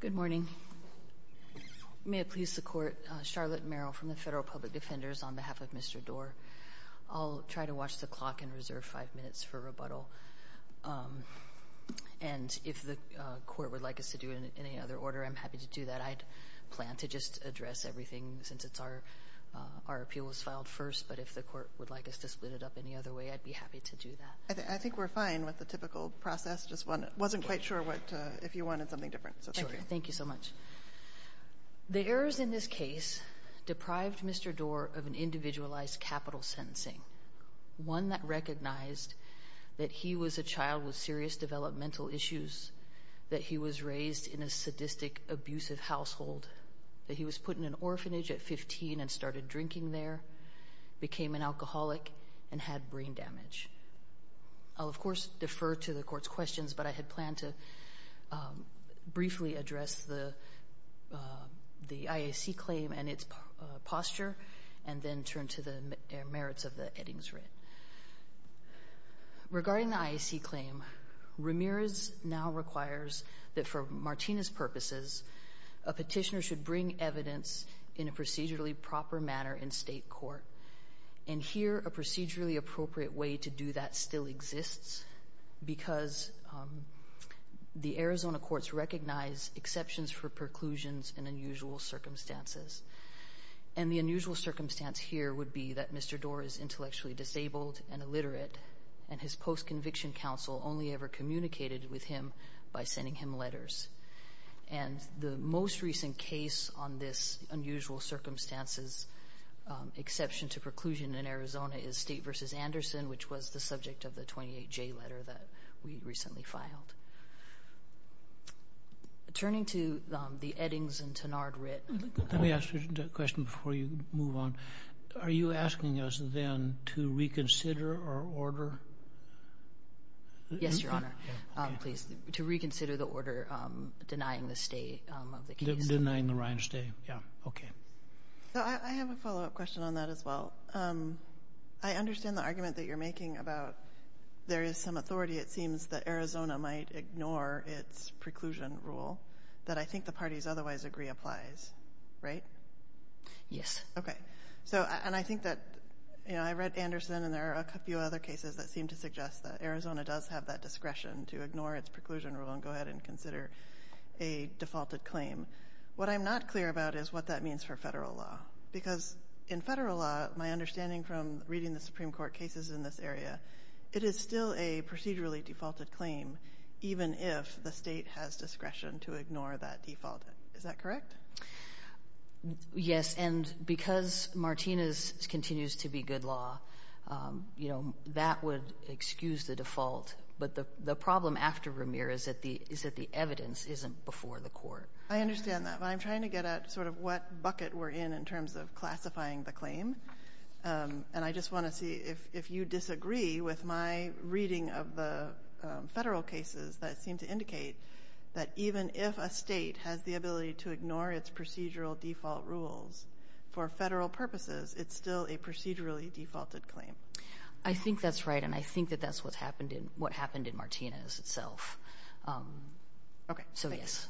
Good morning. May it please the Court, Charlotte Merrill from the Federal Public Defenders on behalf of Mr. Doerr. I'll try to watch the clock and reserve five minutes for rebuttal. And if the Court would like us to do it in any other order, I'm happy to do that. I plan to just address everything since it's our appeal was filed first, but if the Court would like us to split it up any other way, I'd be happy to do that. I think we're fine with the typical process, just wasn't quite sure if you wanted something different. Thank you so much. The errors in this case deprived Mr. Doerr of an individualized capital sentencing, one that recognized that he was a child with serious developmental issues, that he was raised in a sadistic, abusive household, that he was put in an orphanage at 15 and started drinking there, became an alcoholic, and had brain damage. I'll of course defer to the Court's questions, but I had planned to briefly address the IAC claim and its posture, and then turn to the merits of the Eddings writ. Regarding the IAC claim, Ramirez now requires that for Martinez purposes, a petitioner should bring evidence in a procedurally proper manner in state court. Here, a procedurally appropriate way to do that still exists, because the Arizona courts recognize exceptions for preclusions in unusual circumstances. The unusual circumstance here would be that Mr. Doerr is intellectually disabled and illiterate, and his post-conviction counsel only ever communicated with him by on this unusual circumstances. Exception to preclusion in Arizona is State v. Anderson, which was the subject of the 28J letter that we recently filed. Turning to the Eddings and Tenard writ, let me ask you a question before you move on. Are you asking us then to reconsider our order? Yes, Your Honor. Please. To reconsider the I have a follow-up question on that as well. I understand the argument that you're making about there is some authority, it seems, that Arizona might ignore its preclusion rule that I think the parties otherwise agree applies, right? Yes. Okay. So, and I think that I read Anderson and there are a few other cases that seem to suggest that Arizona does have that discretion to ignore its preclusion rule and go ahead and consider a defaulted claim. What I'm not clear about is what that means for federal law, because in federal law, my understanding from reading the Supreme Court cases in this area, it is still a procedurally defaulted claim even if the state has discretion to ignore that default. Is that correct? Yes, and because Martinez continues to be good law, you know, that would excuse the default, but the problem after Vermeer is that the evidence isn't before the court. I understand that, but I'm trying to get at sort of what bucket we're in in terms of classifying the claim, and I just want to see if you disagree with my reading of the federal cases that seem to indicate that even if a state has the ability to ignore its procedural default rules for federal purposes, it's still a procedurally defaulted claim. I think that's right, and I think that's what happened in Martinez itself. Okay, thanks.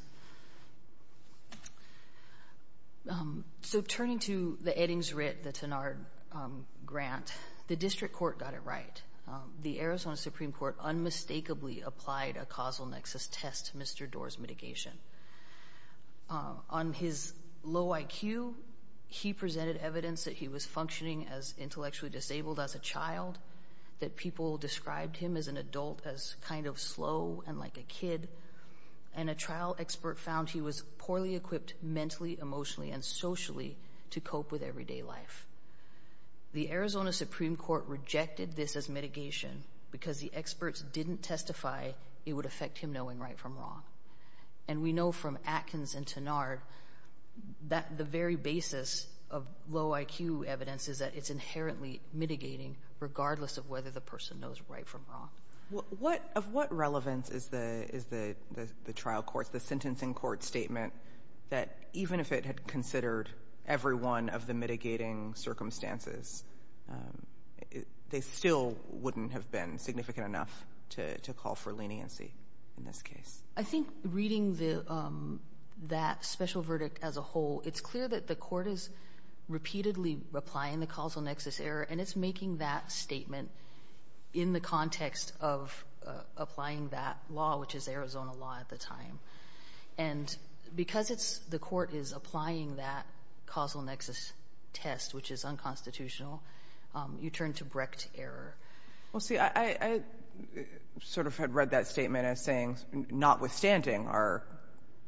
So turning to the Eddings-Ritt, the Tenard grant, the district court got it right. The Arizona Supreme Court unmistakably applied a causal nexus test to Mr. Doar's mitigation. On his low IQ, he presented evidence that he was functioning as intellectually disabled as a child, that people described him as an adult, as kind of slow and like a kid, and a trial expert found he was poorly equipped mentally, emotionally, and socially to cope with everyday life. The Arizona Supreme Court rejected this as mitigation because the experts didn't testify it would affect him knowing right from wrong, and we know from Atkins and Tenard that the very basis of low IQ evidence is that it's inherently mitigating regardless of whether the person knows right from wrong. What — of what relevance is the trial court's, the sentencing court's statement that even if it had considered every one of the mitigating circumstances, they still wouldn't have been significant enough to call for leniency in this case? I think reading the — that special verdict as a whole, it's clear that the court is repeatedly applying the causal nexus error, and it's making that statement in the context of applying that law, which is Arizona law at the time. And because it's — the court is applying that causal nexus test, which is unconstitutional, you turn to Brecht error. Well, see, I sort of had read that statement as saying notwithstanding our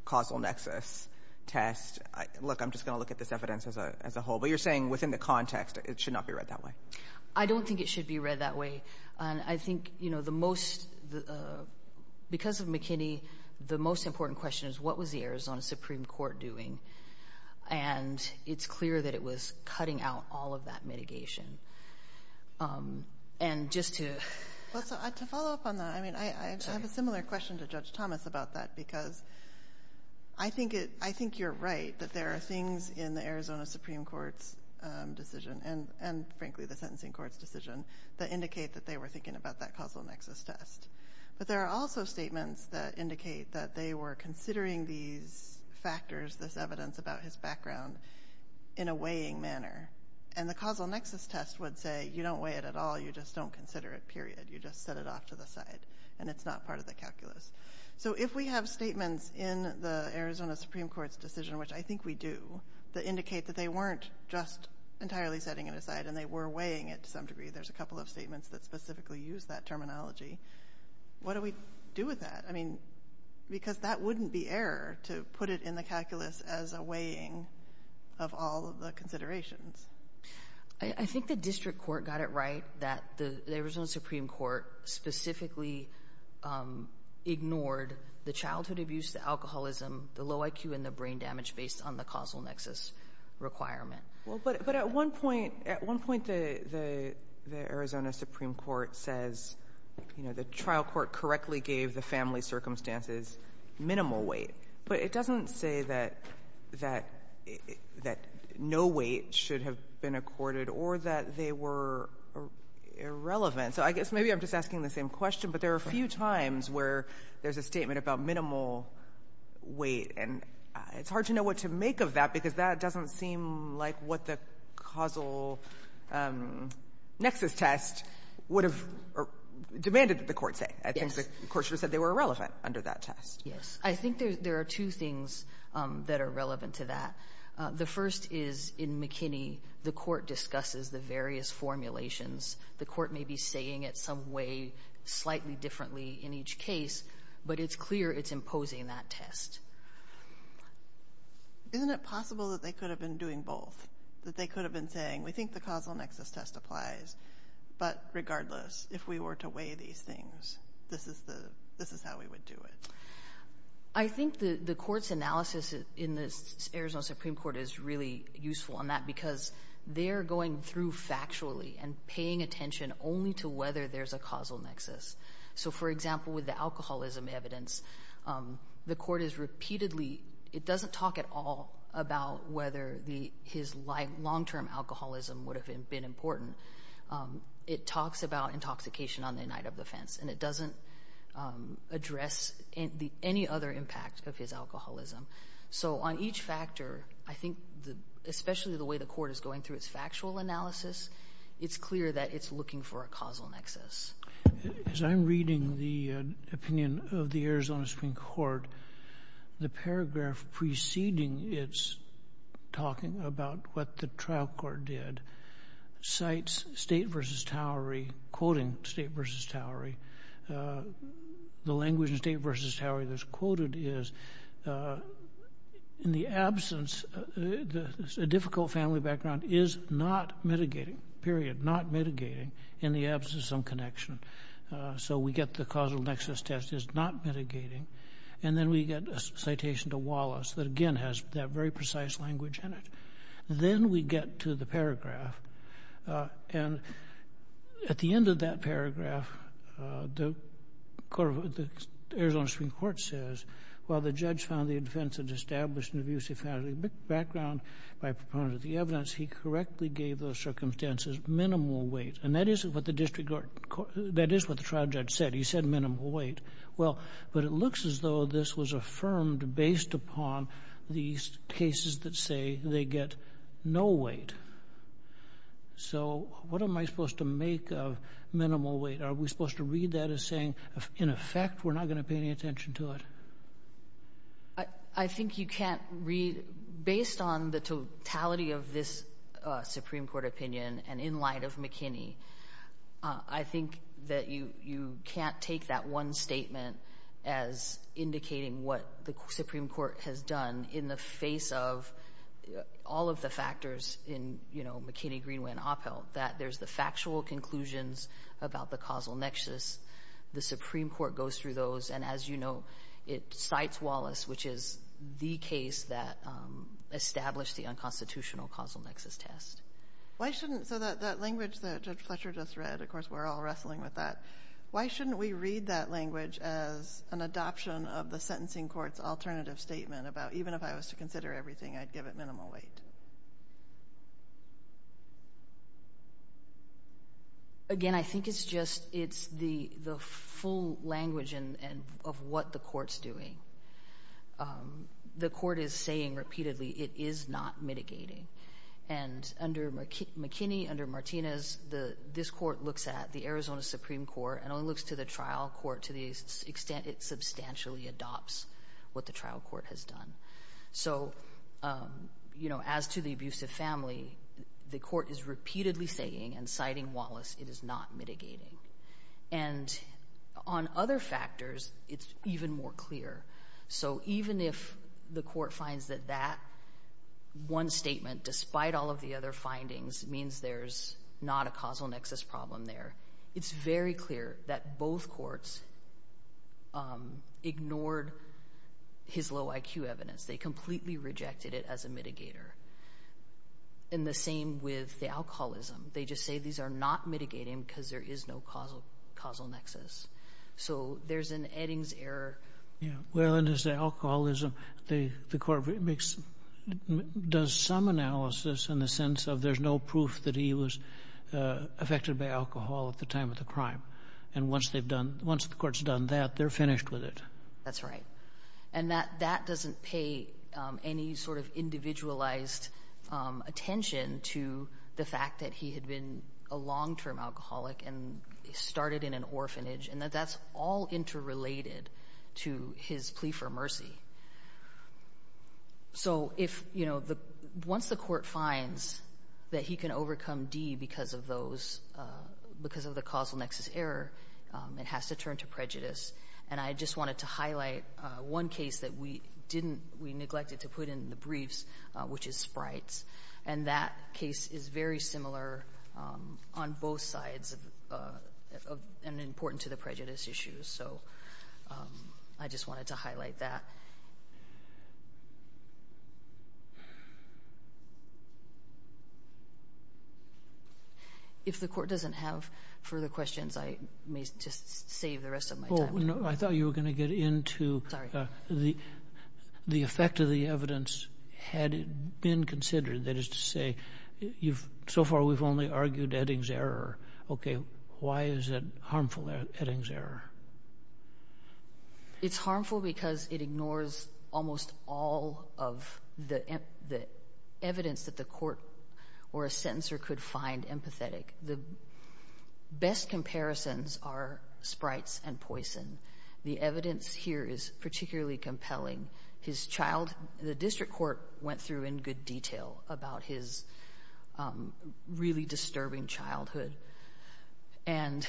causal nexus test, look, I'm just going to look at this evidence as a whole. But you're saying within the context it should not be read that way. I don't think it should be read that way. And I think, you know, the most — because of McKinney, the most important question is what was the Arizona Supreme Court doing? And it's clear that it was cutting out all of that mitigation. And just to — Well, to follow up on that, I mean, I have a similar question to Judge Thomas about that, because I think it — I think you're right that there are things in the Arizona Supreme Court's decision and, frankly, the sentencing court's decision that indicate that they were thinking about that causal nexus test. But there are also statements that indicate that they were considering these factors, this evidence about his background, in a weighing manner. And the causal nexus test would say, you don't weigh it at all, you just don't consider it, period. You just set it off to the side. And it's not part of the calculus. So if we have statements in the Arizona Supreme Court's decision, which I think we do, that indicate that they weren't just entirely setting it aside and they were weighing it to some degree — there's a couple of statements that specifically use that terminology — what do we do with that? I mean, because that wouldn't be error to put it in the calculus as a weighing of all of the considerations. I think the district court got it right that the Arizona Supreme Court specifically ignored the childhood abuse, the alcoholism, the low IQ, and the brain damage based on the causal nexus requirement. But at one point, the Arizona Supreme Court says, you know, the trial court correctly gave the family circumstances minimal weight. But it doesn't say that no weight should have been accorded or that they were irrelevant. So I guess maybe I'm just asking the same question, but there are a few times where there's a statement about minimal weight, and it's hard to know what to make of that, because that doesn't seem like what the causal nexus test would have demanded that the court say. I think the court should have said they were irrelevant under that test. Yes. I think there are two things that are relevant to that. The first is, in McKinney, the court discusses the various formulations. The court may be saying it some way slightly differently in each case, but it's clear it's imposing that test. Isn't it possible that they could have been doing both? That they could have been saying, we think the causal nexus test applies, but regardless, if we were to weigh these things, this is how we would do it? I think the court's analysis in the Arizona Supreme Court is really useful in that, because they're going through factually and paying attention only to whether there's a causal nexus. It doesn't talk at all about whether his long-term alcoholism would have been important. It talks about intoxication on the night of the offense, and it doesn't address any other impact of his alcoholism. So on each factor, especially the way the court is going through its factual analysis, it's clear that it's looking for a causal nexus. As I'm reading the opinion of the Arizona Supreme Court, the paragraph preceding its talking about what the trial court did cites State v. Towery, quoting State v. Towery. The language in State v. Towery that's quoted is, in the absence, a difficult family background is not mitigating, period, not mitigating, in the absence of some connection. So we get the causal nexus test is not mitigating, and then we get a citation to Wallace that again has that very precise language in it. Then we get to the paragraph, and at the end of that paragraph, the Arizona Supreme Court says, while the judge found the offense an established and abusive family background by proponent of the evidence, he correctly gave those circumstances minimal weight. And that is what the district court, that is what the trial judge said. He said minimal weight. Well, but it looks as though this was affirmed based upon these cases that say they get no weight. So what am I supposed to make of minimal weight? Are we supposed to read that as saying, in effect, we're not going to pay any attention to it? I think you can't read, based on the totality of this Supreme Court opinion, and in light of McKinney, I think that you can't take that one statement as indicating what the Supreme Court has done in the face of all of the factors in, you know, McKinney, Greenway, and Oppel, that there's the factual conclusions about the causal nexus. The Supreme Court goes through those. And as you know, it cites Wallace, which is the case that established the unconstitutional causal nexus test. Why shouldn't, so that language that Judge Fletcher just read, of course, we're all wrestling with that. Why shouldn't we read that language as an adoption of the sentencing court's alternative statement about, even if I was to consider everything, I'd give it minimal weight? Again, I think it's just, it's the full language of what the court's doing. The court is saying repeatedly, it is not mitigating. And under McKinney, under Martinez, this court looks at the Arizona Supreme Court and only looks to the trial court to the extent it substantially adopts what the trial court has done. So, you know, as to the abusive family, the court is repeatedly saying and citing Wallace, it is not mitigating. And on other factors, it's even more clear. So even if the court finds that that one statement, despite all of the other findings, means there's not a causal nexus problem there, it's very clear that both courts ignored his low IQ evidence. They completely rejected it as a mitigator. And the same with the alcoholism. They just say these are not mitigating because there is no causal nexus. So there's an Eddings error. Yeah. Well, and as the alcoholism, the court does some analysis in the sense of there's no proof that he was affected by alcohol at the time of the crime. And once they've done, once the court's done that, they're finished with it. That's right. And that doesn't pay any sort of individualized attention to the fact that he had been a long-term alcoholic and started in an orphanage and that that's all interrelated to his plea for mercy. So if, you know, once the court finds that he can overcome D because of those, because of the causal nexus error, it has to turn to prejudice. And I just wanted to highlight one case that we didn't, we neglected to put in the briefs, which is Sprites. And that case is very similar on both sides and important to the prejudice issues. So I just wanted to highlight that. If the court doesn't have further questions, I may just save the rest of my time. I thought you were going to get into the effect of the evidence had it been considered. That is to say, so far we've only argued Edding's error. OK, why is it harmful, Edding's error? It's harmful because it ignores almost all of the evidence that the court or a sentencer could find empathetic. The best comparisons are Sprites and poison. The evidence here is particularly compelling. His child, the district court went through in good detail about his really disturbing childhood and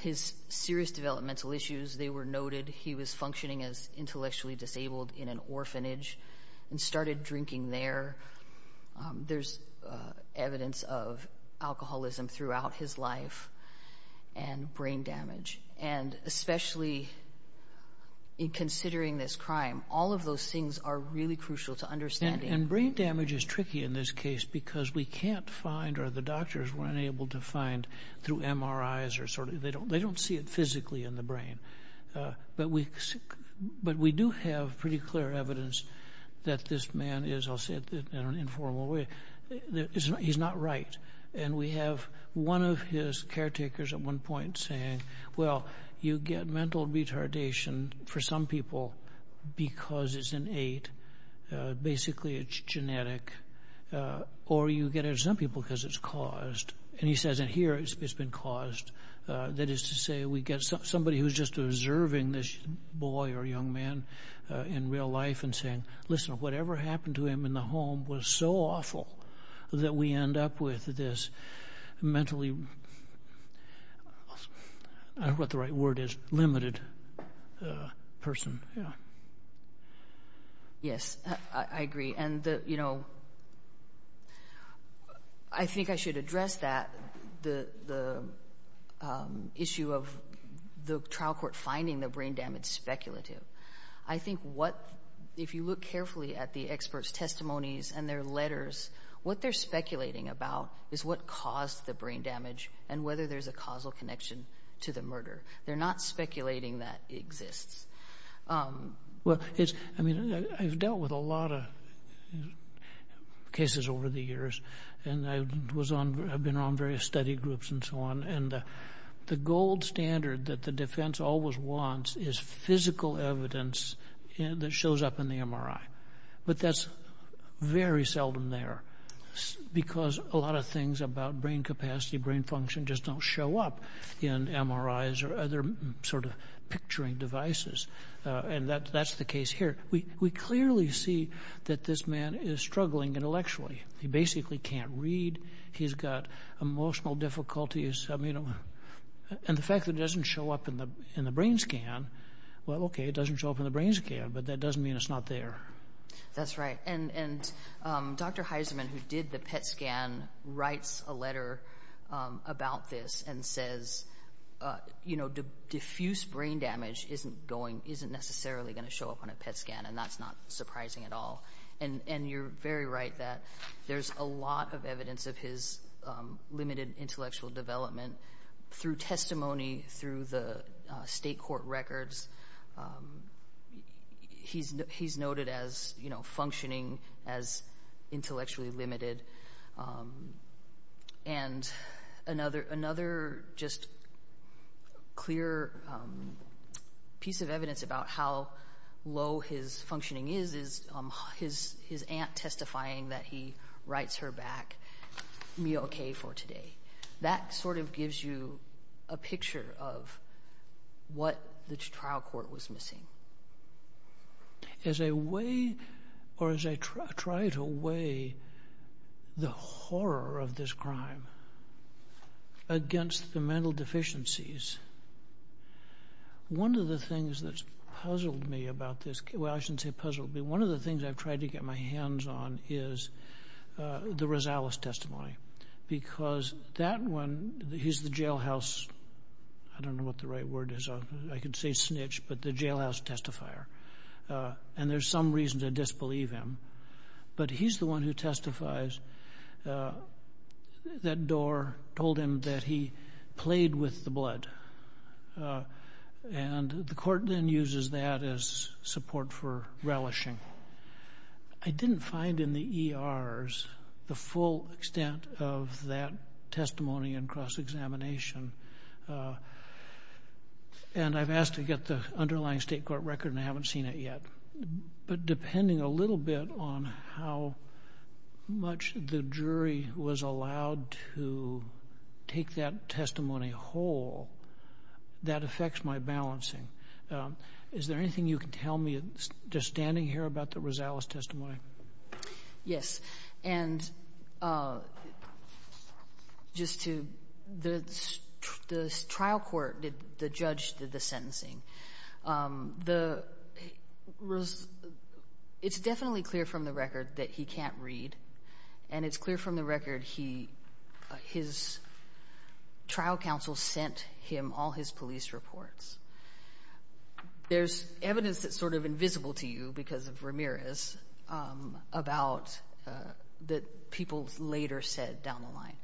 his serious developmental issues. They were noted. He was functioning as intellectually disabled in an orphanage and started drinking there. There's evidence of alcoholism throughout his life and brain damage. And especially in considering this crime, all of those things are really crucial to understanding. And brain damage is tricky in this case because we can't find or the doctors were unable to find through MRIs or sort of they don't they don't see it physically in the brain. But we but we do have pretty clear evidence that this man is, I'll say it in an informal way, that he's not right. And we have one of his caretakers at one point saying, well, you get mental retardation for some people because it's an eight. Basically, it's genetic or you get some people because it's caused. And he says in here it's been caused. That is to say, we get somebody who's just observing this boy or young man in real life and saying, listen, whatever happened to him in the home was so awful that we end up with this mentally, what the right word is, limited person. Yes, I agree. And, you know, I think I should address that, the issue of the trial court finding the brain damage speculative. I think what if you look carefully at the experts' testimonies and their letters, what they're speculating about is what caused the brain damage and whether there's a causal connection to the murder. They're not speculating that exists. Well, I mean, I've dealt with a lot of cases over the years and I was on, I've been on various study groups and so on. And the gold standard that the defense always wants is physical evidence that shows up in the MRI. But that's very seldom there because a lot of things about brain capacity, brain function just don't show up in MRIs or other sort of picturing devices. And that's the case here. We clearly see that this man is struggling intellectually. He basically can't read. He's got emotional difficulties. I mean, and the fact that it doesn't show up in the brain scan. Well, OK, it doesn't show up in the brain scan, but that doesn't mean it's not there. That's right. And Dr. Heisman, who did the PET scan, writes a letter about this and says, you know, diffuse brain damage isn't going, isn't necessarily going to show up on a PET scan. And that's not surprising at all. And you're very right that there's a lot of evidence of his limited intellectual development through testimony, through the state court records. He's noted as, you know, functioning as intellectually limited. And another just clear piece of evidence about how low his functioning is, is his aunt testifying that he writes her back, me OK for today. That sort of gives you a picture of what the trial court was missing. As a way or as I try to weigh the horror of this crime against the mental deficiencies. One of the things that's puzzled me about this, well, I shouldn't say puzzled, but one of the things I've tried to get my hands on is the Rosales testimony, because that one, he's the jailhouse, I don't know what the right word is, I could say snitch, but the jailhouse testifier. And there's some reason to disbelieve him, but he's the one who testifies. That door told him that he played with the blood and the court then uses that as support for relishing. I didn't find in the ERs the full extent of that testimony and cross examination. And I've asked to get the underlying state court record and I haven't seen it yet. But depending a little bit on how much the jury was allowed to take that Just standing here about the Rosales testimony. Yes. And just to the trial court, the judge did the sentencing. It's definitely clear from the record that he can't read. And it's clear from the record, his trial counsel sent him all his police reports. There's evidence that's sort of invisible to you because of Ramirez about that people later said down the line.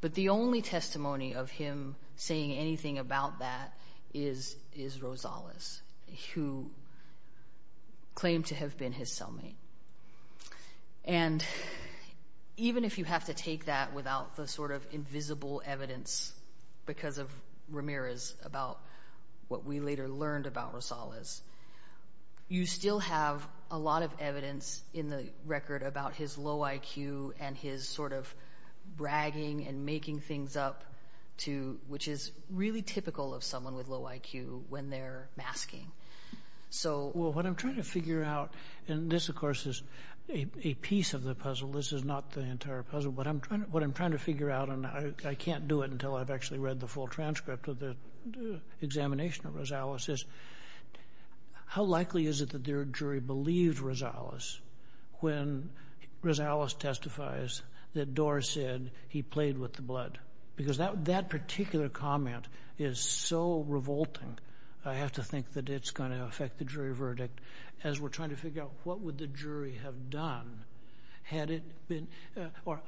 But the only testimony of him saying anything about that is Rosales, who claimed to have been his cellmate. And even if you have to take that without the sort of invisible evidence because of Ramirez about what we later learned about Rosales, you still have a lot of evidence in the record about his low IQ and his sort of bragging and making things up too, which is really typical of someone with low IQ when they're masking. So what I'm trying to figure out, and this, of course, is a piece of the puzzle. This is not the entire puzzle. What I'm trying to figure out, and I can't do it until I've actually read the full transcript of the examination of Rosales, is how likely is it that their jury believed Rosales when Rosales testifies that Dorr said he played with the blood? Because that particular comment is so revolting. I have to think that it's going to affect the jury verdict as we're or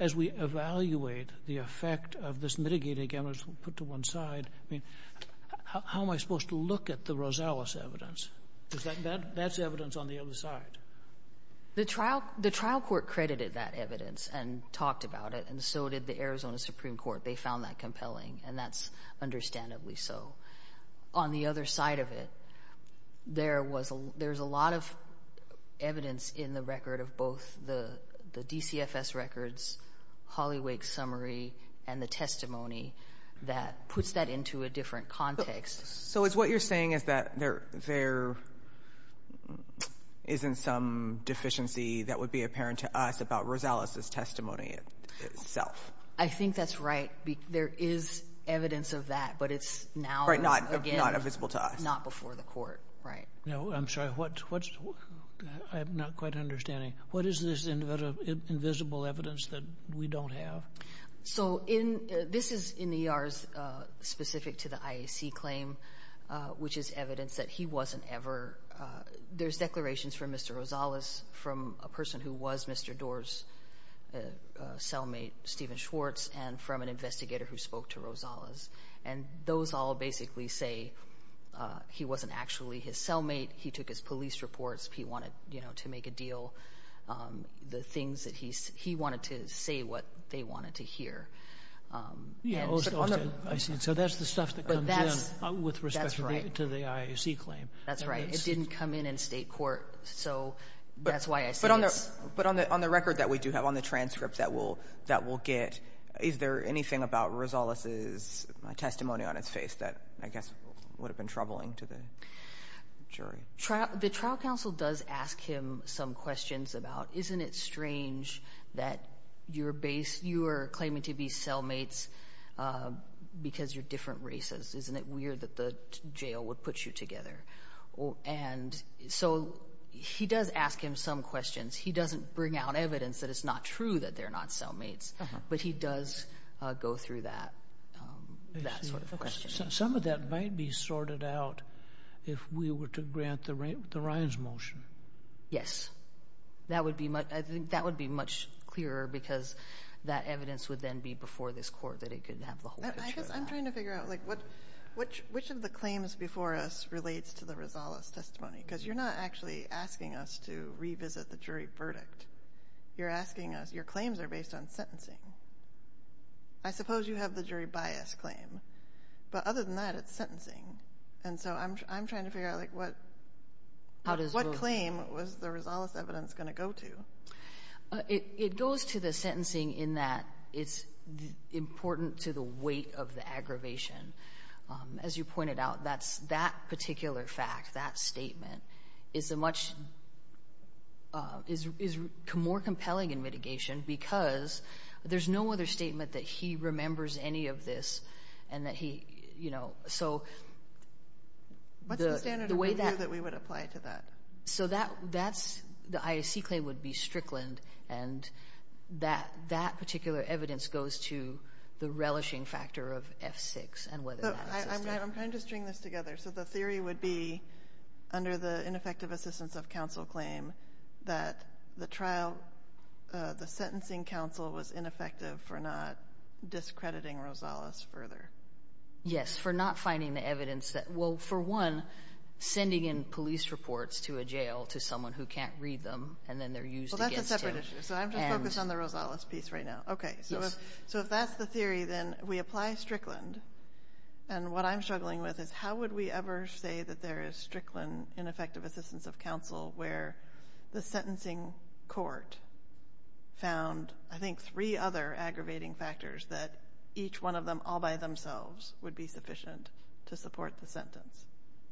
as we evaluate the effect of this mitigating evidence put to one side. I mean, how am I supposed to look at the Rosales evidence? Because that's evidence on the other side. The trial court credited that evidence and talked about it, and so did the Arizona Supreme Court. They found that compelling, and that's understandably so. On the other side of it, there's a lot of record of both the DCFS records, Holly Wake's summary, and the testimony that puts that into a different context. So is what you're saying is that there isn't some deficiency that would be apparent to us about Rosales' testimony itself? I think that's right. There is evidence of that, but it's now, again, not before the court, right? No, I'm sorry. I'm not quite understanding. What is this invisible evidence that we don't have? So this is in the E.R.'s specific to the IAC claim, which is evidence that he wasn't ever, there's declarations from Mr. Rosales, from a person who was Mr. Dorr's cellmate, Steven Schwartz, and from an investigator who spoke to Rosales. And those all basically say he wasn't actually his cellmate. He took his police reports. He wanted, you know, to make a deal. The things that he, he wanted to say what they wanted to hear. Yeah, I see. So that's the stuff that comes in with respect to the IAC claim. That's right. It didn't come in in state court. So that's why I say it's... But on the record that we do have, on the transcript that we'll get, is there anything about Rosales' testimony on its face that I guess would have been troubling to the jury? The trial counsel does ask him some questions about, isn't it strange that you're claiming to be cellmates because you're different races? Isn't it weird that the jail would put you together? And so he does ask him some questions. He doesn't bring out evidence that it's not true that they're not cellmates. But he does go through that that sort of question. Some of that might be sorted out if we were to grant the Ryan's motion. Yes. That would be much, I think that would be much clearer because that evidence would then be before this court that it could have the whole picture of that. I'm trying to figure out like what, which of the claims before us relates to the Rosales' testimony? Because you're not actually asking us to revisit the jury verdict. You're asking us, your claims are based on sentencing. I suppose you have the jury bias claim. But other than that, it's sentencing. And so I'm trying to figure out like what, what claim was the Rosales' evidence going to go to? It goes to the sentencing in that it's important to the weight of the aggravation. As you pointed out, that's that is a much is more compelling in mitigation because there's no other statement that he remembers any of this and that he, you know, so the way that we would apply to that. So that that's the IAC claim would be Strickland. And that that particular evidence goes to the relishing factor of F6 and whether I'm trying to string this together. So the theory would be under the ineffective assistance of counsel claim that the trial, the sentencing counsel was ineffective for not discrediting Rosales further. Yes, for not finding the evidence that well, for one, sending in police reports to a jail to someone who can't read them, and then they're used. That's a separate issue. So I'm just focused on the Rosales piece right now. Okay. So, so if that's the theory, then we apply Strickland. And what I'm struggling with is how would we ever say that there is Strickland ineffective assistance of counsel where the sentencing court found, I think, three other aggravating factors that each one of them all by themselves would be sufficient to support the sentence?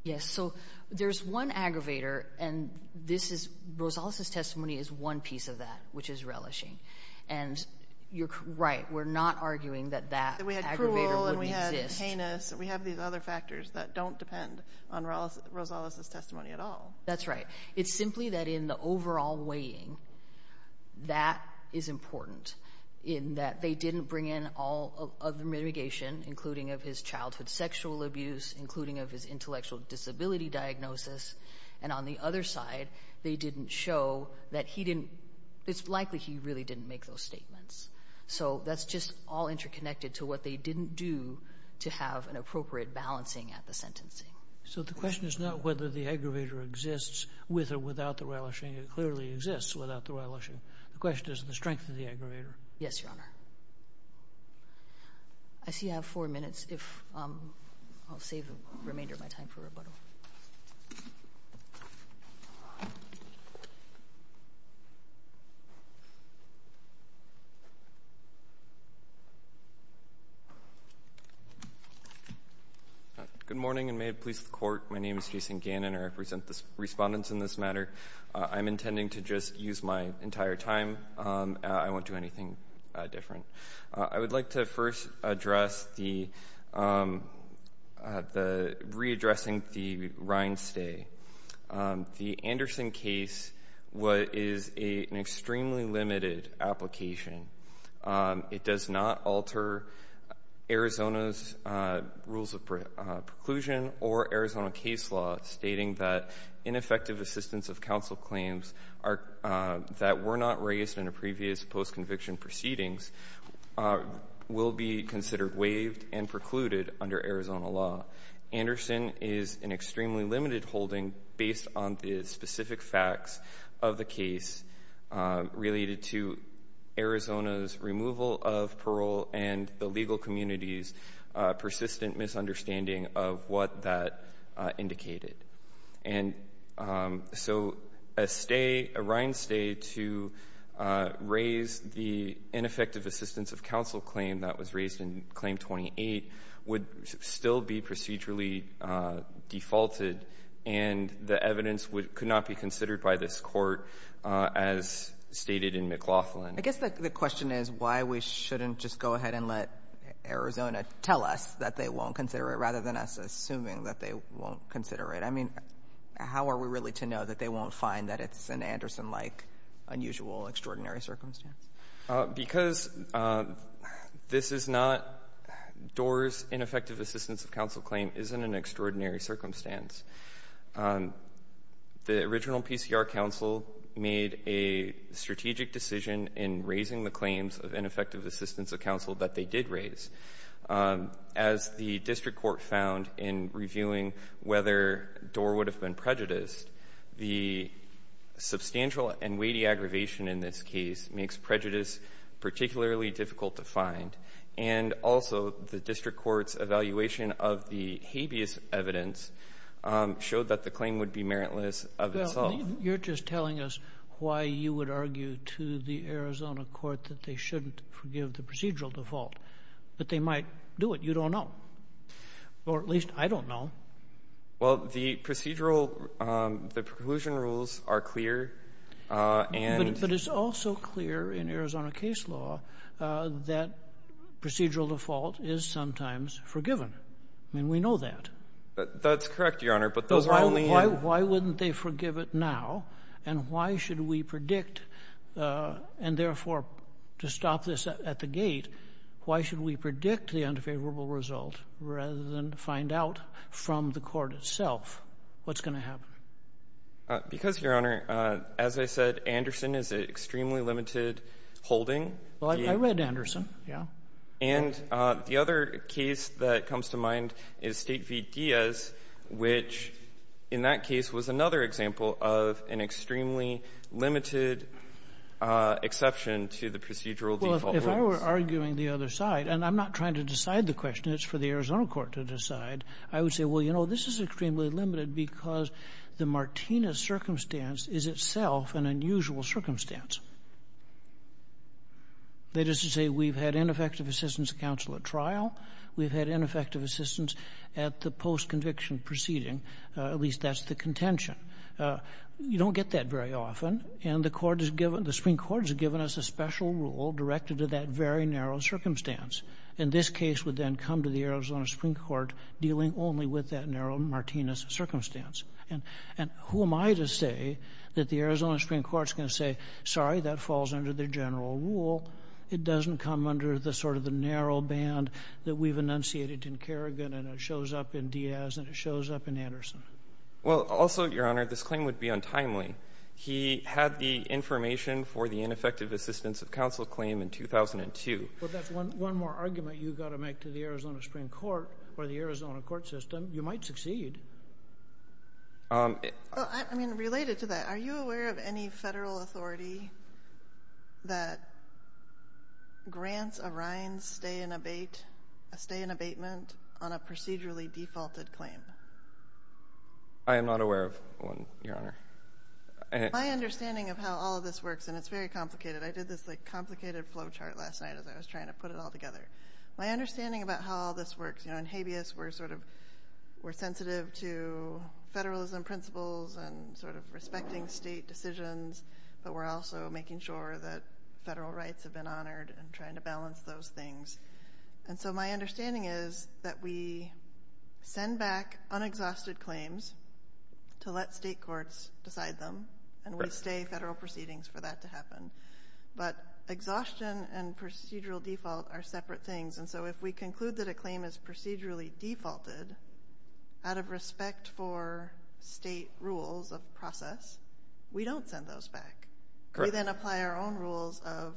Yes. So there's one aggravator. And this is Rosales' testimony is one piece of that, which is relishing. And you're right, we're not arguing that that aggravator wouldn't exist. We had cruel and we had heinous. We have these other factors that don't depend on Rosales' testimony at all. That's right. It's simply that in the overall weighing, that is important in that they didn't bring in all of the mitigation, including of his childhood sexual abuse, including of his intellectual disability diagnosis. And on the other side, they didn't show that he didn't, it's just all interconnected to what they didn't do to have an appropriate balancing at the sentencing. So the question is not whether the aggravator exists with or without the relishing. It clearly exists without the relishing. The question is the strength of the aggravator. Yes, Your Honor. I see I have four minutes. If I'll save the remainder of my time for rebuttal. Good morning and may it please the court. My name is Jason Gannon. I represent the respondents in this matter. I'm intending to just use my entire time. I won't do anything different. I would like to first address the readdressing the Rines stay. The Anderson case is an alter Arizona's rules of preclusion or Arizona case law, stating that ineffective assistance of counsel claims that were not raised in a previous post-conviction proceedings will be considered waived and precluded under Arizona law. Anderson is an extremely limited holding and based on the specific facts of the case related to Arizona's removal of parole and the legal community's persistent misunderstanding of what that indicated. And so a stay, a Rines stay to raise the ineffective assistance of counsel claim that was raised in claim 28 would still be considered. And the evidence could not be considered by this court as stated in McLaughlin. I guess the question is why we shouldn't just go ahead and let Arizona tell us that they won't consider it rather than us assuming that they won't consider it. I mean, how are we really to know that they won't find that it's an Anderson-like, unusual, extraordinary circumstance? Because this is not Doar's ineffective assistance of counsel claim is in an extraordinary circumstance. The original PCR counsel made a strategic decision in raising the claims of ineffective assistance of counsel that they did raise. As the district court found in reviewing whether Doar would have been prejudiced, the substantial and weighty aggravation in this case makes prejudice particularly difficult to find. And also the district court's evaluation of the habeas evidence showed that the claim would be meritless of itself. You're just telling us why you would argue to the Arizona court that they shouldn't forgive the procedural default, but they might do it. You don't know, or at least I don't know. Well, the procedural, the preclusion rules are clear and... But it's also clear in Arizona case law that procedural default is sometimes forgiven. I mean, we know that. That's correct, Your Honor, but those are only... rather than to find out from the court itself what's going to happen. Because, Your Honor, as I said, Anderson is an extremely limited holding. Well, I read Anderson, yeah. And the other case that comes to mind is State v. Diaz, which in that case was another example of an extremely limited exception to the procedural default. Well, if I were arguing the other side, and I'm not trying to decide the question. It's for the Arizona court to decide. I would say, well, you know, this is extremely limited because the Martinez circumstance is itself an unusual circumstance. That is to say, we've had ineffective assistance counsel at trial. We've had ineffective assistance at the post-conviction proceeding. At least that's the contention. You don't get that very often. And the Supreme Court has given us a special rule directed to that very narrow circumstance. And this case would then come to the Arizona Supreme Court dealing only with that narrow Martinez circumstance. And who am I to say that the Arizona Supreme Court is going to say, sorry, that falls under the general rule. It doesn't come under the sort of the narrow band that we've enunciated in Kerrigan, and it shows up in Diaz, and it shows up in Anderson. Well, also, Your Honor, this claim would be untimely. He had the information for the ineffective assistance of counsel claim in 2002. Well, that's one more argument you've got to make to the Arizona Supreme Court or the Arizona court system. You might succeed. I mean, related to that, are you aware of any federal authority that grants a Rines stay in abate, a stay in abatement on a procedurally defaulted claim? I am not aware of one, Your Honor. My understanding of how all of this works, and it's very complicated. I did this like complicated flow chart last night as I was trying to put it all together. My understanding about how all this works, you know, in habeas, we're sort of, we're sensitive to federalism principles and sort of respecting state decisions, but we're also making sure that federal rights have been honored and trying to balance those things. And so, my understanding is that we send back unexhausted claims to let state courts decide them and we stay federal proceedings for that to happen, but exhaustion and procedural default are separate things. And so, if we conclude that a claim is procedurally defaulted out of respect for state rules of process, we don't send those back. Correct. We then apply our own rules of,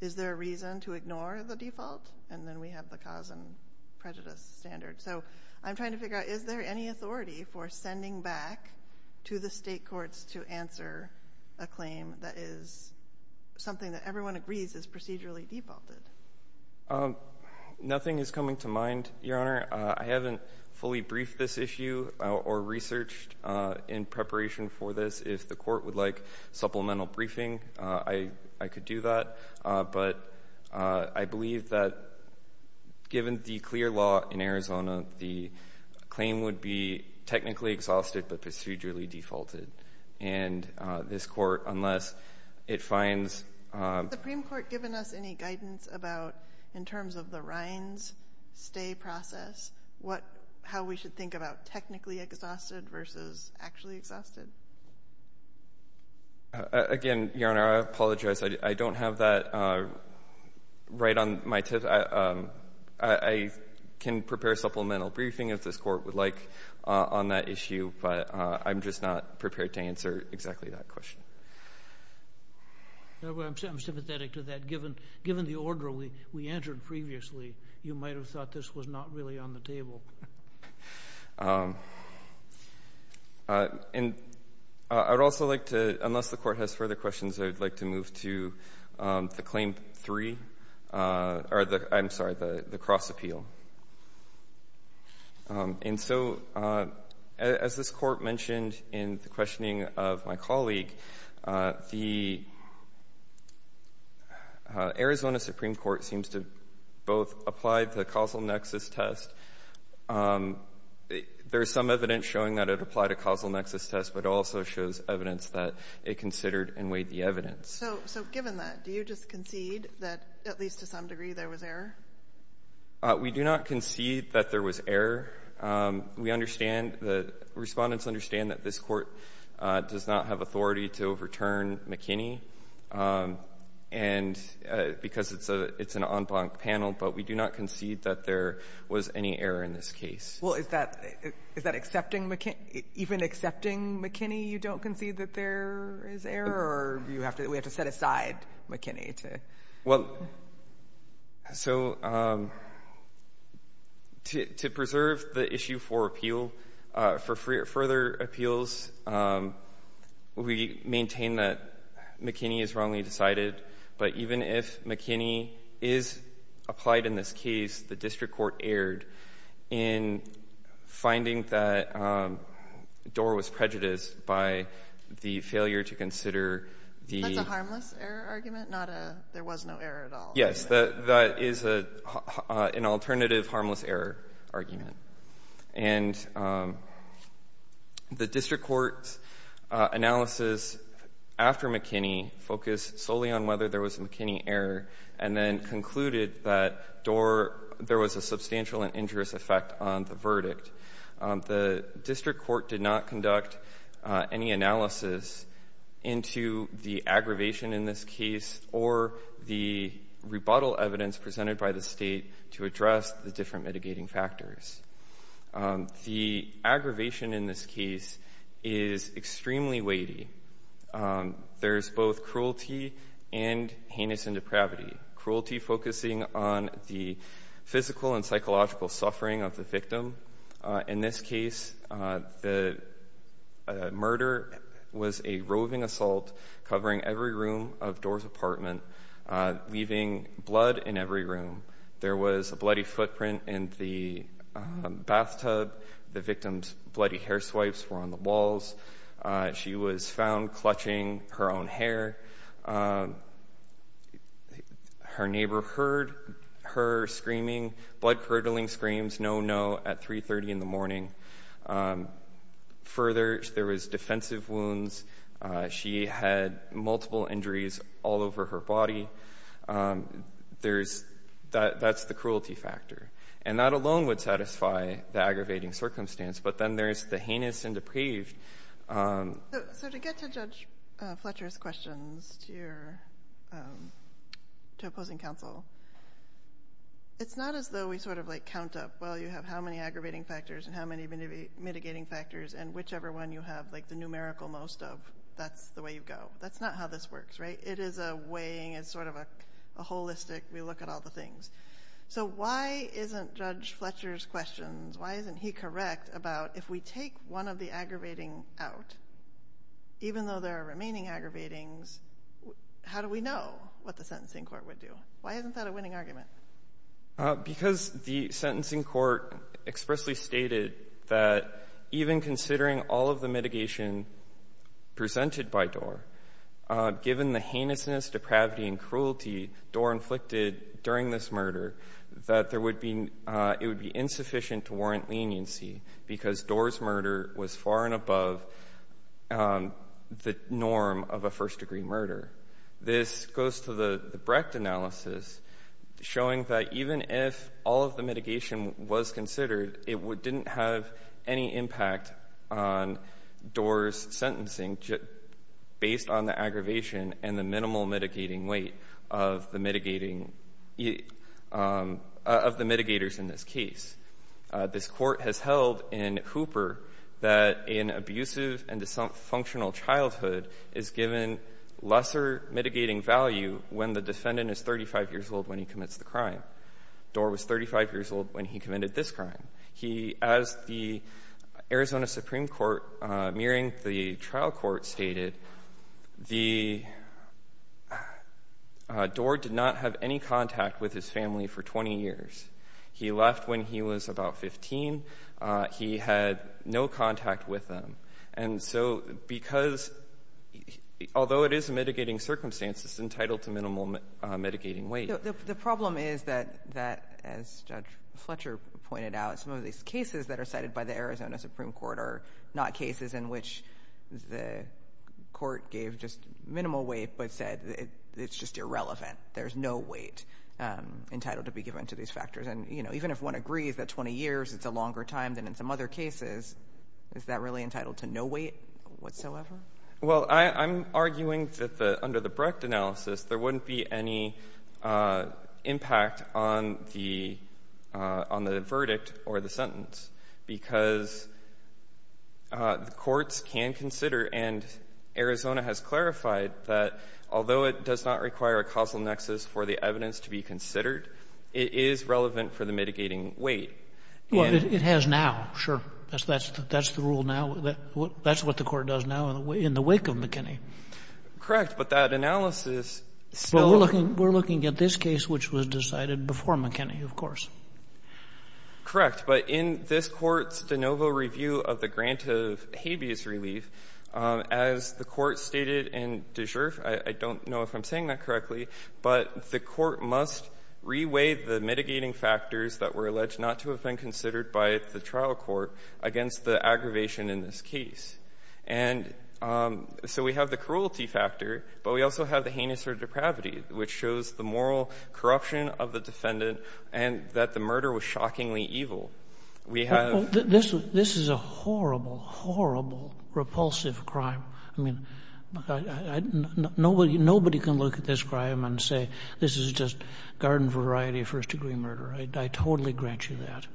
is there a reason to ignore the default? And then we have the cause and prejudice standard. So, I'm trying to figure out, is there any authority for sending back to the state courts to answer a claim that is something that everyone agrees is procedurally defaulted? Nothing is coming to mind, Your Honor. I haven't fully briefed this issue or researched in preparation for this. If the court would like supplemental briefing, I could do that. But I believe that given the clear law in Arizona, the claim would be technically exhausted but procedurally defaulted. And this court, unless it finds... Has the Supreme Court given us any guidance about, in terms of the Rines stay process, how we should think about technically exhausted versus actually exhausted? Again, Your Honor, I apologize. I don't have that right on my tip. I can prepare supplemental briefing if this court would like on that issue, but I'm just not prepared to answer exactly that question. I'm sympathetic to that. Given the order we answered previously, you might have thought this was not really on the table. I would also like to, unless the court has further questions, I would like to move to the Claim 3, or the, I'm sorry, the cross appeal. And so, as this court mentioned in the questioning of my colleague, the Arizona Supreme Court seems to both apply the causal nexus test. There's some evidence showing that it applied a causal nexus test, but it also shows evidence that it considered and weighed the evidence. So, given that, do you just concede that, at least to some degree, there was error? We do not concede that there was error. We understand, the respondents understand that this court does not have authority to overturn McKinney, and because it's an en blanc panel, but we do not concede that there was any error in this case. Well, is that, is that accepting McKinney, even accepting McKinney, you don't concede that there is error, or do you have to, we have to set aside McKinney to? Well, so, to preserve the issue for appeal, for further appeals, we maintain that McKinney is wrongly decided, but even if McKinney is applied in this case, the district court erred in finding that Doar was prejudiced by the failure to consider the That's a harmless error argument, not a, there was no error at all. Yes, that is an alternative harmless error argument. And the district court's analysis after McKinney focused solely on whether there was a McKinney error and then concluded that Doar, there was a substantial and injurious effect on the verdict. The district court did not conduct any analysis into the aggravation in this case or the rebuttal evidence presented by the state to address the different mitigating factors. The aggravation in this case is extremely weighty. There's both cruelty and heinous and depravity. Cruelty focusing on the physical and psychological suffering of the victim. In this case, the murder was a roving assault covering every room of Doar's apartment, leaving blood in every room. There was a bloody footprint in the bathtub. The victim's bloody hair swipes were on the walls. She was found clutching her own hair. Her neighbor heard her screaming, blood-curdling screams, no, no, at 3.30 in the morning. Further, there was defensive wounds. She had multiple injuries all over her body. That's the cruelty factor. And that alone would satisfy the aggravating circumstance. But then there's the heinous and depraved. So to get to Judge Fletcher's questions to opposing counsel, it's not as though we sort of like count up, well, you have how many aggravating factors and how many mitigating factors and whichever one you have, like the numerical most of, that's the way you go. That's not how this works, right? It is a weighing, it's sort of a holistic, we look at all the things. So why isn't Judge Fletcher's questions? Why isn't he correct about if we take one of the aggravating out, even though there are remaining aggravatings, how do we know what the sentencing court would do? Why isn't that a winning argument? Because the sentencing court expressly stated that even considering all of the mitigation presented by Doar, given the heinousness, depravity, and cruelty Doar inflicted during this murder, that it would be insufficient to warrant leniency because Doar's murder was far and above the norm of a first-degree murder. This goes to the Brecht analysis, showing that even if all of the mitigation was considered, it didn't have any impact on Doar's sentencing based on the aggravation and the minimal mitigating weight of the mitigating, of the mitigators in this case. This court has held in Hooper that an abusive and dysfunctional childhood is given lesser mitigating value when the defendant is 35 years old when he commits the crime. Doar was 35 years old when he committed this crime. He, as the Arizona Supreme Court, mirroring the trial court, stated, Doar did not have any contact with his family for 20 years. He left when he was about 15. He had no contact with them. And so because, although it is a mitigating circumstance, it's entitled to minimal mitigating weight. The problem is that, as Judge Fletcher pointed out, some of these cases that are cited by the Arizona Supreme Court are not cases in which the court gave just minimal weight but said it's just irrelevant. There's no weight entitled to be given to these factors. And even if one agrees that 20 years is a longer time than in some other cases, is that really entitled to no weight whatsoever? Well, I'm arguing that the under the Brecht analysis, there wouldn't be any impact on the verdict or the sentence, because the courts can consider, and Arizona has clarified, that although it does not require a causal nexus for the evidence to be considered, it is relevant for the mitigating weight. Well, it has now, sure. That's the rule now. That's what the court does now in the wake of McKinney. Correct. But that analysis still looks at this case, which was decided before McKinney, of course. Correct. But in this Court's de novo review of the grant of habeas relief, as the Court stated in de jure, I don't know if I'm saying that correctly, but the Court must reweigh the mitigating factors that were alleged not to have been considered by the trial court against the aggravation in this case. And so we have the cruelty factor, but we also have the heinous or depravity, which shows the moral corruption of the defendant and that the murder was shockingly evil. We have the This is a horrible, horrible, repulsive crime. I mean, nobody can look at this crime and say, this is just garden-variety first-degree murder. I totally grant you that.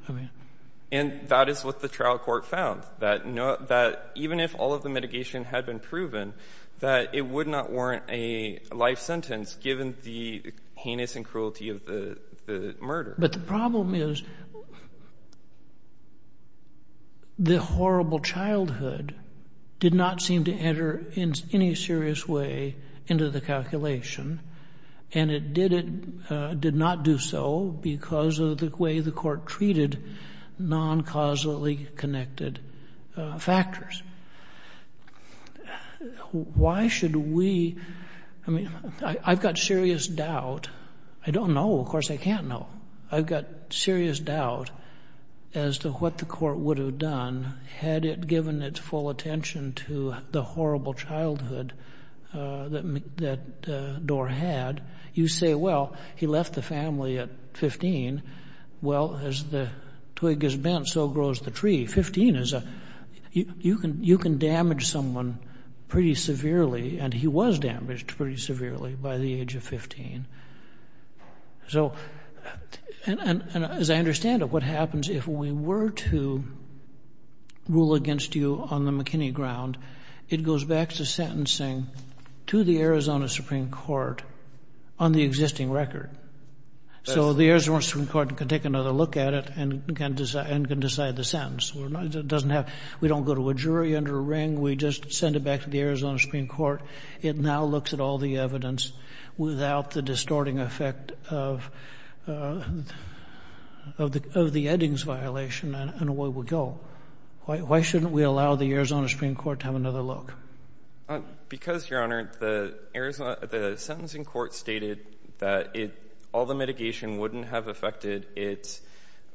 And that is what the trial court found, that even if all of the mitigation had been proven, that it would not warrant a life sentence given the heinous and cruelty of the murder. But the problem is, the horrible childhood did not seem to enter in any serious way into the calculation, and it did it — did not do so because of the way the Court treated non-causally connected factors. Why should we — I mean, I've got serious doubt — I don't know, of course I can't know — I've got serious doubt as to what the Court would have done had it given its full attention to the horrible childhood that Doar had. You say, well, he left the family at 15. Well, as the twig is bent, so grows the tree. Fifteen is a — you can damage someone pretty severely, and he was damaged pretty severely by the age of 15. So — and as I understand it, what happens if we were to rule against you on the existing record? So the Arizona Supreme Court can take another look at it and can decide the sentence. It doesn't have — we don't go to a jury under a ring. We just send it back to the Arizona Supreme Court. It now looks at all the evidence without the distorting effect of the Eddings violation, and away we go. Why shouldn't we allow the Arizona Supreme Court to have another look? Because, Your Honor, the Arizona — the sentencing court stated that it — all the mitigation wouldn't have affected its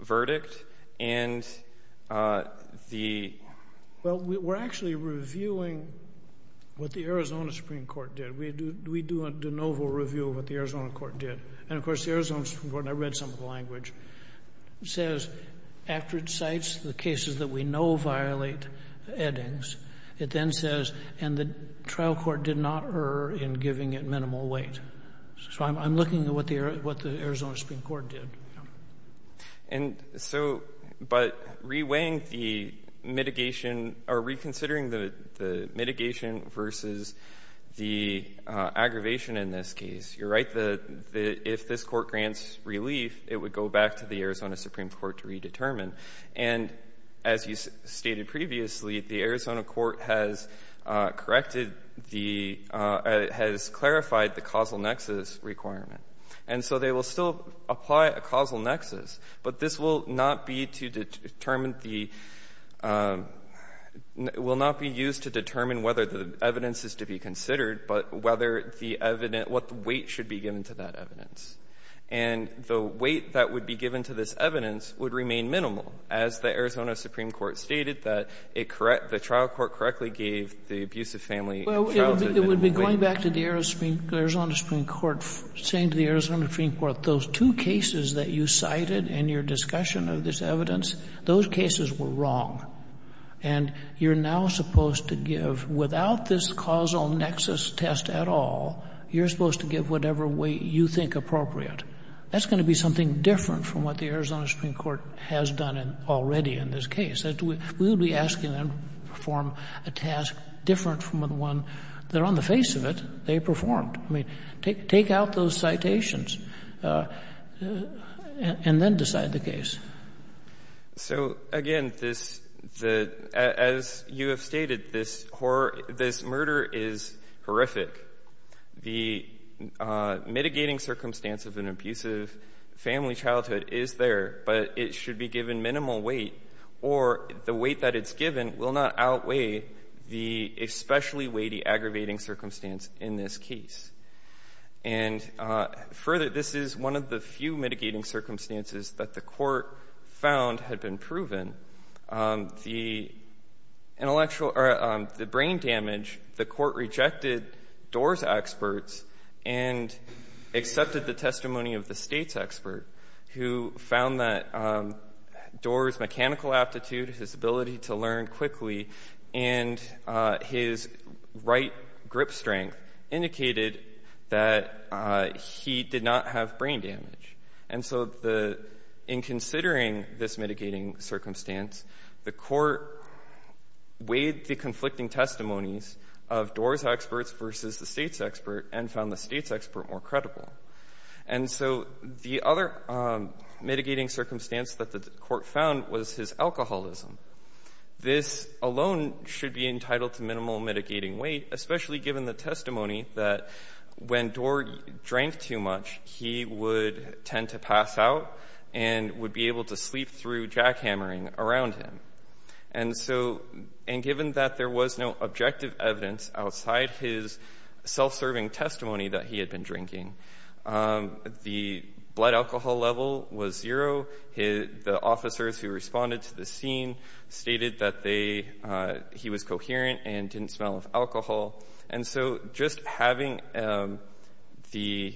verdict, and the — Well, we're actually reviewing what the Arizona Supreme Court did. We do a de novo review of what the Arizona Court did. And, of course, the Arizona Supreme Court — and I read some of the language — says, after it cites the cases that we know violate Eddings, it then says, and the trial court did not err in giving it minimal weight. So I'm looking at what the Arizona Supreme Court did. And so — but re-weighing the mitigation — or reconsidering the mitigation versus the aggravation in this case, you're right, the — if this court grants relief, it would go back to the Arizona Supreme Court to redetermine. And as you stated previously, the Arizona court has corrected the — has clarified the causal nexus requirement. And so they will still apply a causal nexus, but this will not be to determine the — will not be used to determine whether the evidence is to be considered, but whether the evidence — what weight should be given to that evidence. And the weight that would be given to this evidence would remain minimal, as the Arizona Supreme Court stated, that it correct — the trial court correctly gave the abusive family trial to minimal weight. Sotomayor, it would be going back to the Arizona Supreme Court, saying to the Arizona Supreme Court, those two cases that you cited in your discussion of this evidence, those cases were wrong. And you're now supposed to give — without this causal nexus test at all, you're not going to be able to determine whether the evidence is appropriate. That's going to be something different from what the Arizona Supreme Court has done already in this case. We would be asking them to perform a task different from the one that, on the face of it, they performed. I mean, take out those citations, and then decide the case. So, again, this — the — as you have stated, this horror — this murder is horrific. The mitigating circumstance of an abusive family childhood is there, but it should be given minimal weight, or the weight that it's given will not outweigh the especially weighty, aggravating circumstance in this case. And further, this is one of the few mitigating circumstances that the court found had been proven. The intellectual — or the brain damage, the court rejected Doar's experts and accepted the testimony of the state's expert, who found that Doar's mechanical aptitude, his that he did not have brain damage. And so the — in considering this mitigating circumstance, the court weighed the conflicting testimonies of Doar's experts versus the state's expert and found the state's expert more credible. And so the other mitigating circumstance that the court found was his alcoholism. This alone should be entitled to minimal mitigating weight, especially given the testimony that when Doar drank too much, he would tend to pass out and would be able to sleep through jackhammering around him. And so — and given that there was no objective evidence outside his self-serving testimony that he had been drinking, the blood alcohol level was zero. The officers who responded to the scene stated that they — he was coherent and didn't smell of alcohol. And so just having the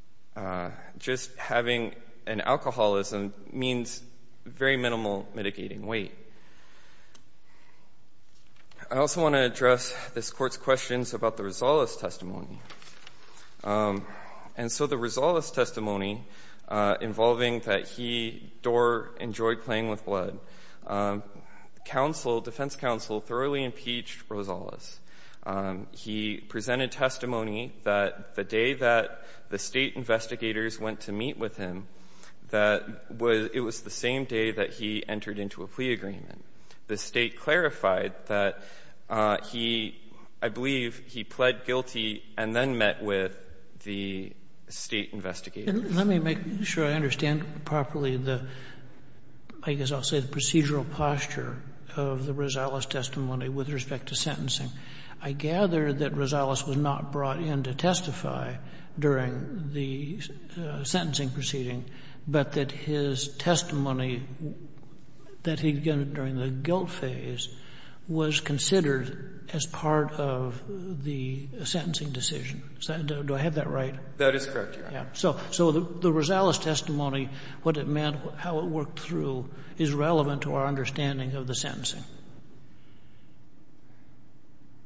— just having an alcoholism means very minimal mitigating weight. I also want to address this court's questions about the Rosales testimony. And so the Rosales testimony involving that he, Doar, enjoyed playing with blood, counsel defense counsel thoroughly impeached Rosales. He presented testimony that the day that the State investigators went to meet with him, that was — it was the same day that he entered into a plea agreement. The State clarified that he — I believe he pled guilty and then met with the State investigators. And let me make sure I understand properly the — I guess I'll say the procedural posture of the Rosales testimony with respect to sentencing. I gather that Rosales was not brought in to testify during the sentencing proceeding, but that his testimony that he'd given during the guilt phase was considered as part of the sentencing decision. Do I have that right? That is correct, Your Honor. So the Rosales testimony, what it meant, how it worked through is relevant to our understanding of the sentencing.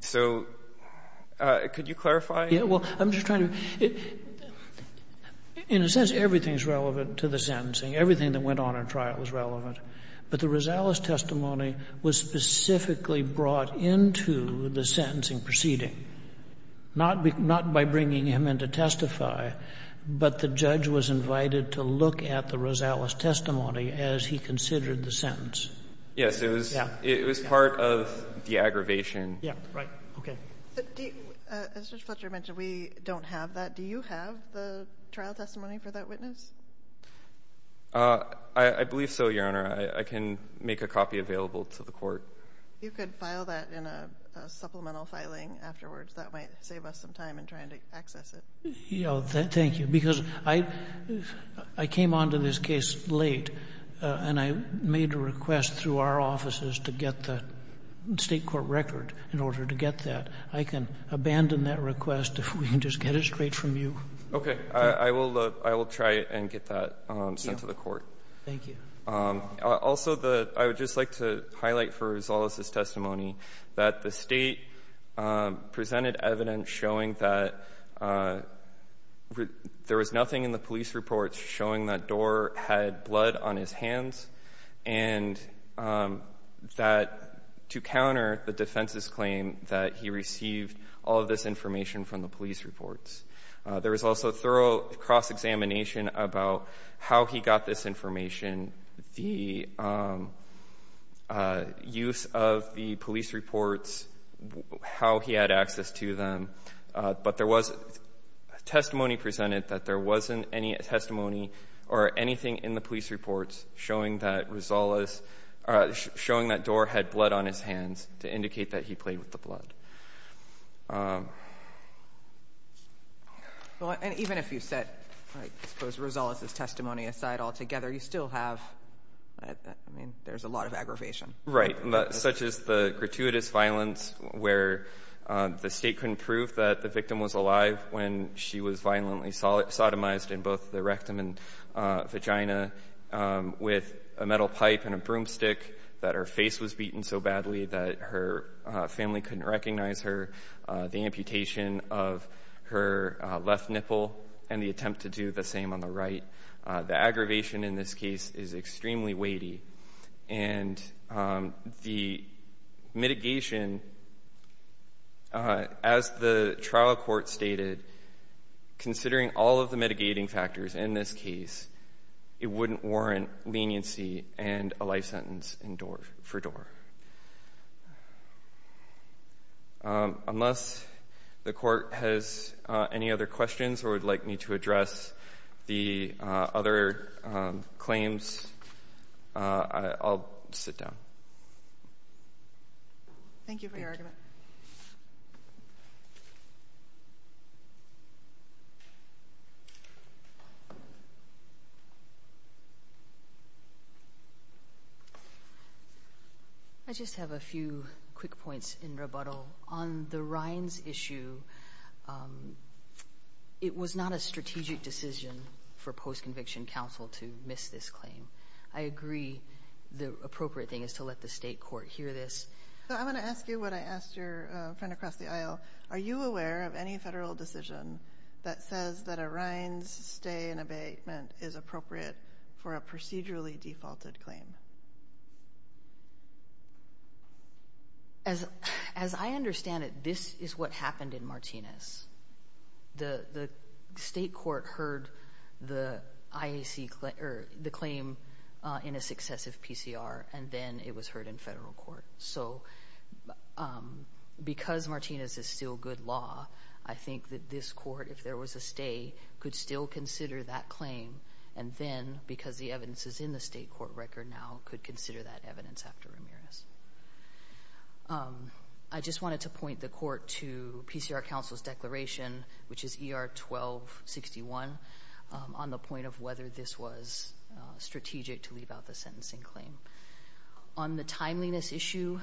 So could you clarify? Yeah. Well, I'm just trying to — in a sense, everything is relevant to the sentencing. Everything that went on in trial is relevant. But the Rosales testimony was specifically brought into the sentencing proceeding, not by bringing him in to testify, but the judge was invited to look at the Rosales testimony as he considered the sentence. Yes. It was part of the aggravation. Yeah. Right. Okay. As Judge Fletcher mentioned, we don't have that. Do you have the trial testimony for that witness? I believe so, Your Honor. I can make a copy available to the Court. If you could file that in a supplemental filing afterwards, that might save us some time in trying to access it. Yeah, thank you. Because I came on to this case late, and I made a request through our offices to get the state court record in order to get that. I can abandon that request if we can just get it straight from you. Okay. I will try and get that sent to the Court. Thank you. Also, I would just like to highlight for Rosales' testimony that the state presented evidence showing that there was nothing in the police reports showing that Dorr had blood on his hands and that to counter the defense's claim that he received all of this information from the police reports. There was also thorough cross-examination about how he got this information, the use of the police reports, how he had access to them, but there was testimony presented that there wasn't any testimony or anything in the police reports showing that Dorr had blood on his hands to indicate that he played with the blood. Even if you set, I suppose, Rosales' testimony aside altogether, you still have, I mean, there's a lot of aggravation. Right. Such as the gratuitous violence where the state couldn't prove that the victim was alive when she was violently sodomized in both the rectum and vagina with a metal pipe and a knife. It was so badly that her family couldn't recognize her, the amputation of her left nipple and the attempt to do the same on the right. The aggravation in this case is extremely weighty and the mitigation, as the trial court stated, considering all of the mitigating factors in this case, it wouldn't warrant leniency and a life sentence for Dorr. Unless the court has any other questions or would like me to address the other claims, I'll sit down. Thank you for your argument. I just have a few quick points in rebuttal. On the Rines issue, it was not a strategic decision for post-conviction counsel to miss this claim. I agree the appropriate thing is to let the state court hear this. I'm going to ask you what I asked your friend across the aisle. Are you aware of any federal decision that says that a Rines stay in abatement is appropriate for a procedurally defaulted claim? As I understand it, this is what happened in Martinez. The state court heard the claim in a successive PCR and then it was heard in federal court. Because Martinez is still good law, I think that this court, if there was a stay, could still consider that claim and then, because the evidence is in the state court record now, could consider that evidence after Ramirez. I just wanted to point the court to PCR counsel's declaration, which is ER 1261, on the point of whether this was strategic to leave out the sentencing claim. On the timeliness issue,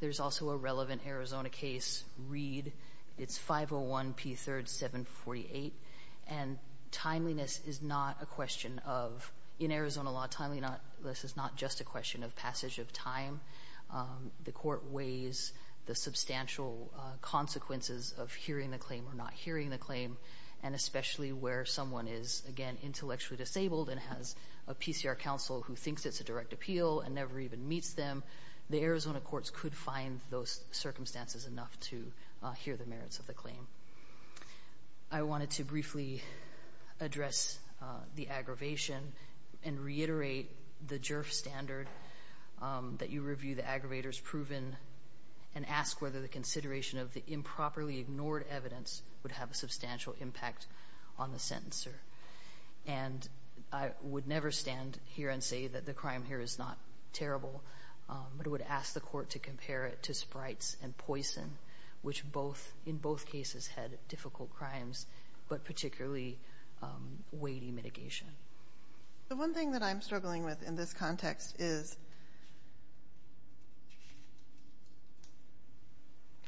there's also a relevant Arizona case, Reed. It's 501 P3rd 748. Timeliness is not a question of, in Arizona law, timeliness is not just a question of The court weighs the substantial consequences of hearing the claim or not hearing the claim, and especially where someone is, again, intellectually disabled and has a PCR counsel who thinks it's a direct appeal and never even meets them, the Arizona courts could find those circumstances enough to hear the merits of the claim. I wanted to briefly address the aggravation and reiterate the JIRF standard that you review the aggravators proven and ask whether the consideration of the improperly ignored evidence would have a substantial impact on the sentencer. And I would never stand here and say that the crime here is not terrible, but I would ask the court to compare it to sprites and poison, which both, in both cases, had difficult crimes, but particularly weighty mitigation. The one thing that I'm struggling with in this context is,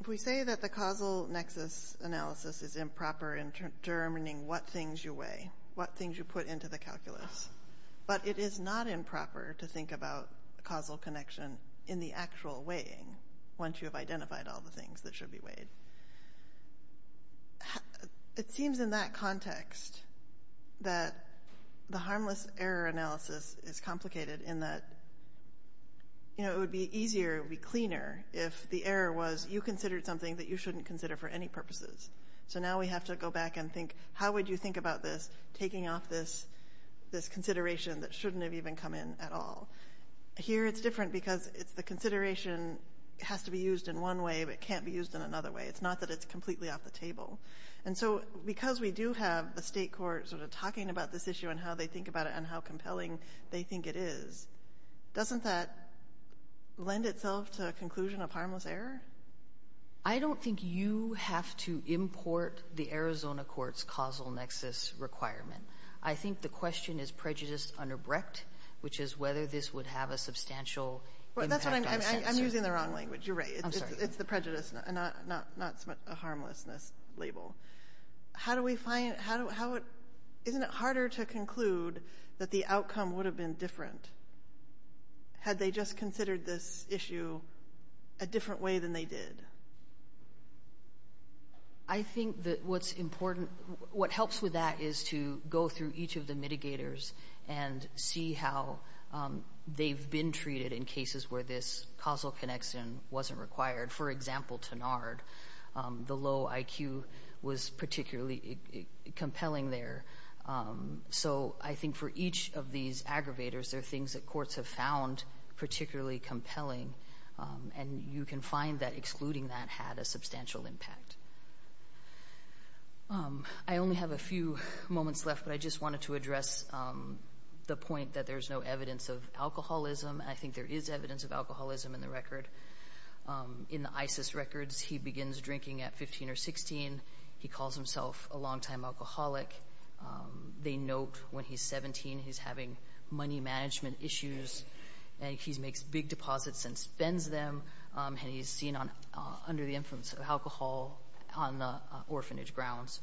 if we say that the causal nexus analysis is improper in determining what things you weigh, what things you put into the calculus, but it is not improper to think about causal connection in the actual weighing once you have identified all the things that should be weighed, it seems in that context that the harmless error analysis is complicated in that, you know, it would be easier, it would be cleaner if the error was you considered something that you shouldn't consider for any purposes. So now we have to go back and think, how would you think about this, taking off this consideration that shouldn't have even come in at all? Here it's different because it's the consideration has to be used in one way but can't be used in another way. It's not that it's completely off the table. And so, because we do have the state court sort of talking about this issue and how they think about it and how compelling they think it is, doesn't that lend itself to a conclusion of harmless error? I don't think you have to import the Arizona court's causal nexus requirement. I think the question is prejudice under Brecht, which is whether this would have a substantial impact on censor. Well, that's what I'm, I'm using the wrong language. You're right. I'm sorry. It's the prejudice, not a harmlessness label. How do we find, how, isn't it harder to conclude that the outcome would have been different had they just considered this issue a different way than they did? I think that what's important, what helps with that is to go through each of the mitigators and see how they've been treated in cases where this causal connection wasn't required. For example, Tenard, the low IQ was particularly compelling there. So I think for each of these aggravators, there are things that courts have found particularly compelling and you can find that excluding that had a substantial impact. I only have a few moments left, but I just wanted to address the point that there's no evidence of alcoholism. I think there is evidence of alcoholism in the record. In the ISIS records, he begins drinking at 15 or 16. He calls himself a long-time alcoholic. They note when he's 17, he's having money management issues and he makes big deposits and spends them, and he's seen under the influence of alcohol on the orphanage grounds.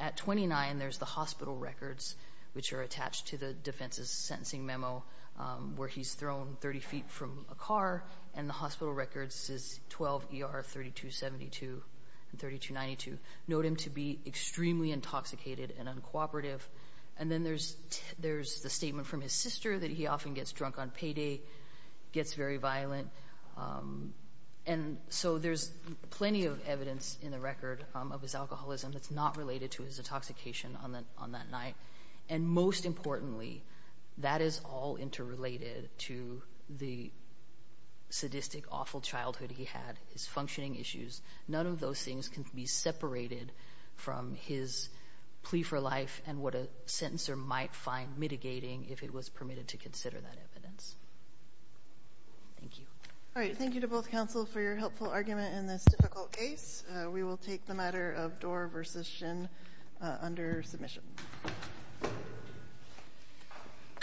At 29, there's the hospital records, which are attached to the defense's sentencing memo, where he's thrown 30 feet from a car, and the hospital records is 12 ER 3272 and 3292. Note him to be extremely intoxicated and uncooperative. And then there's the statement from his sister that he often gets drunk on payday, gets very violent, and so there's plenty of evidence in the record of his alcoholism that's not related to his intoxication on that night. And most importantly, that is all interrelated to the sadistic, awful childhood he had, his functioning issues. None of those things can be separated from his plea for life and what a sentencer might find mitigating if it was permitted to consider that evidence. Thank you. All right. Thank you to both counsel for your helpful argument in this difficult case. We will take the matter of Dorr v. Shin under submission. All rise.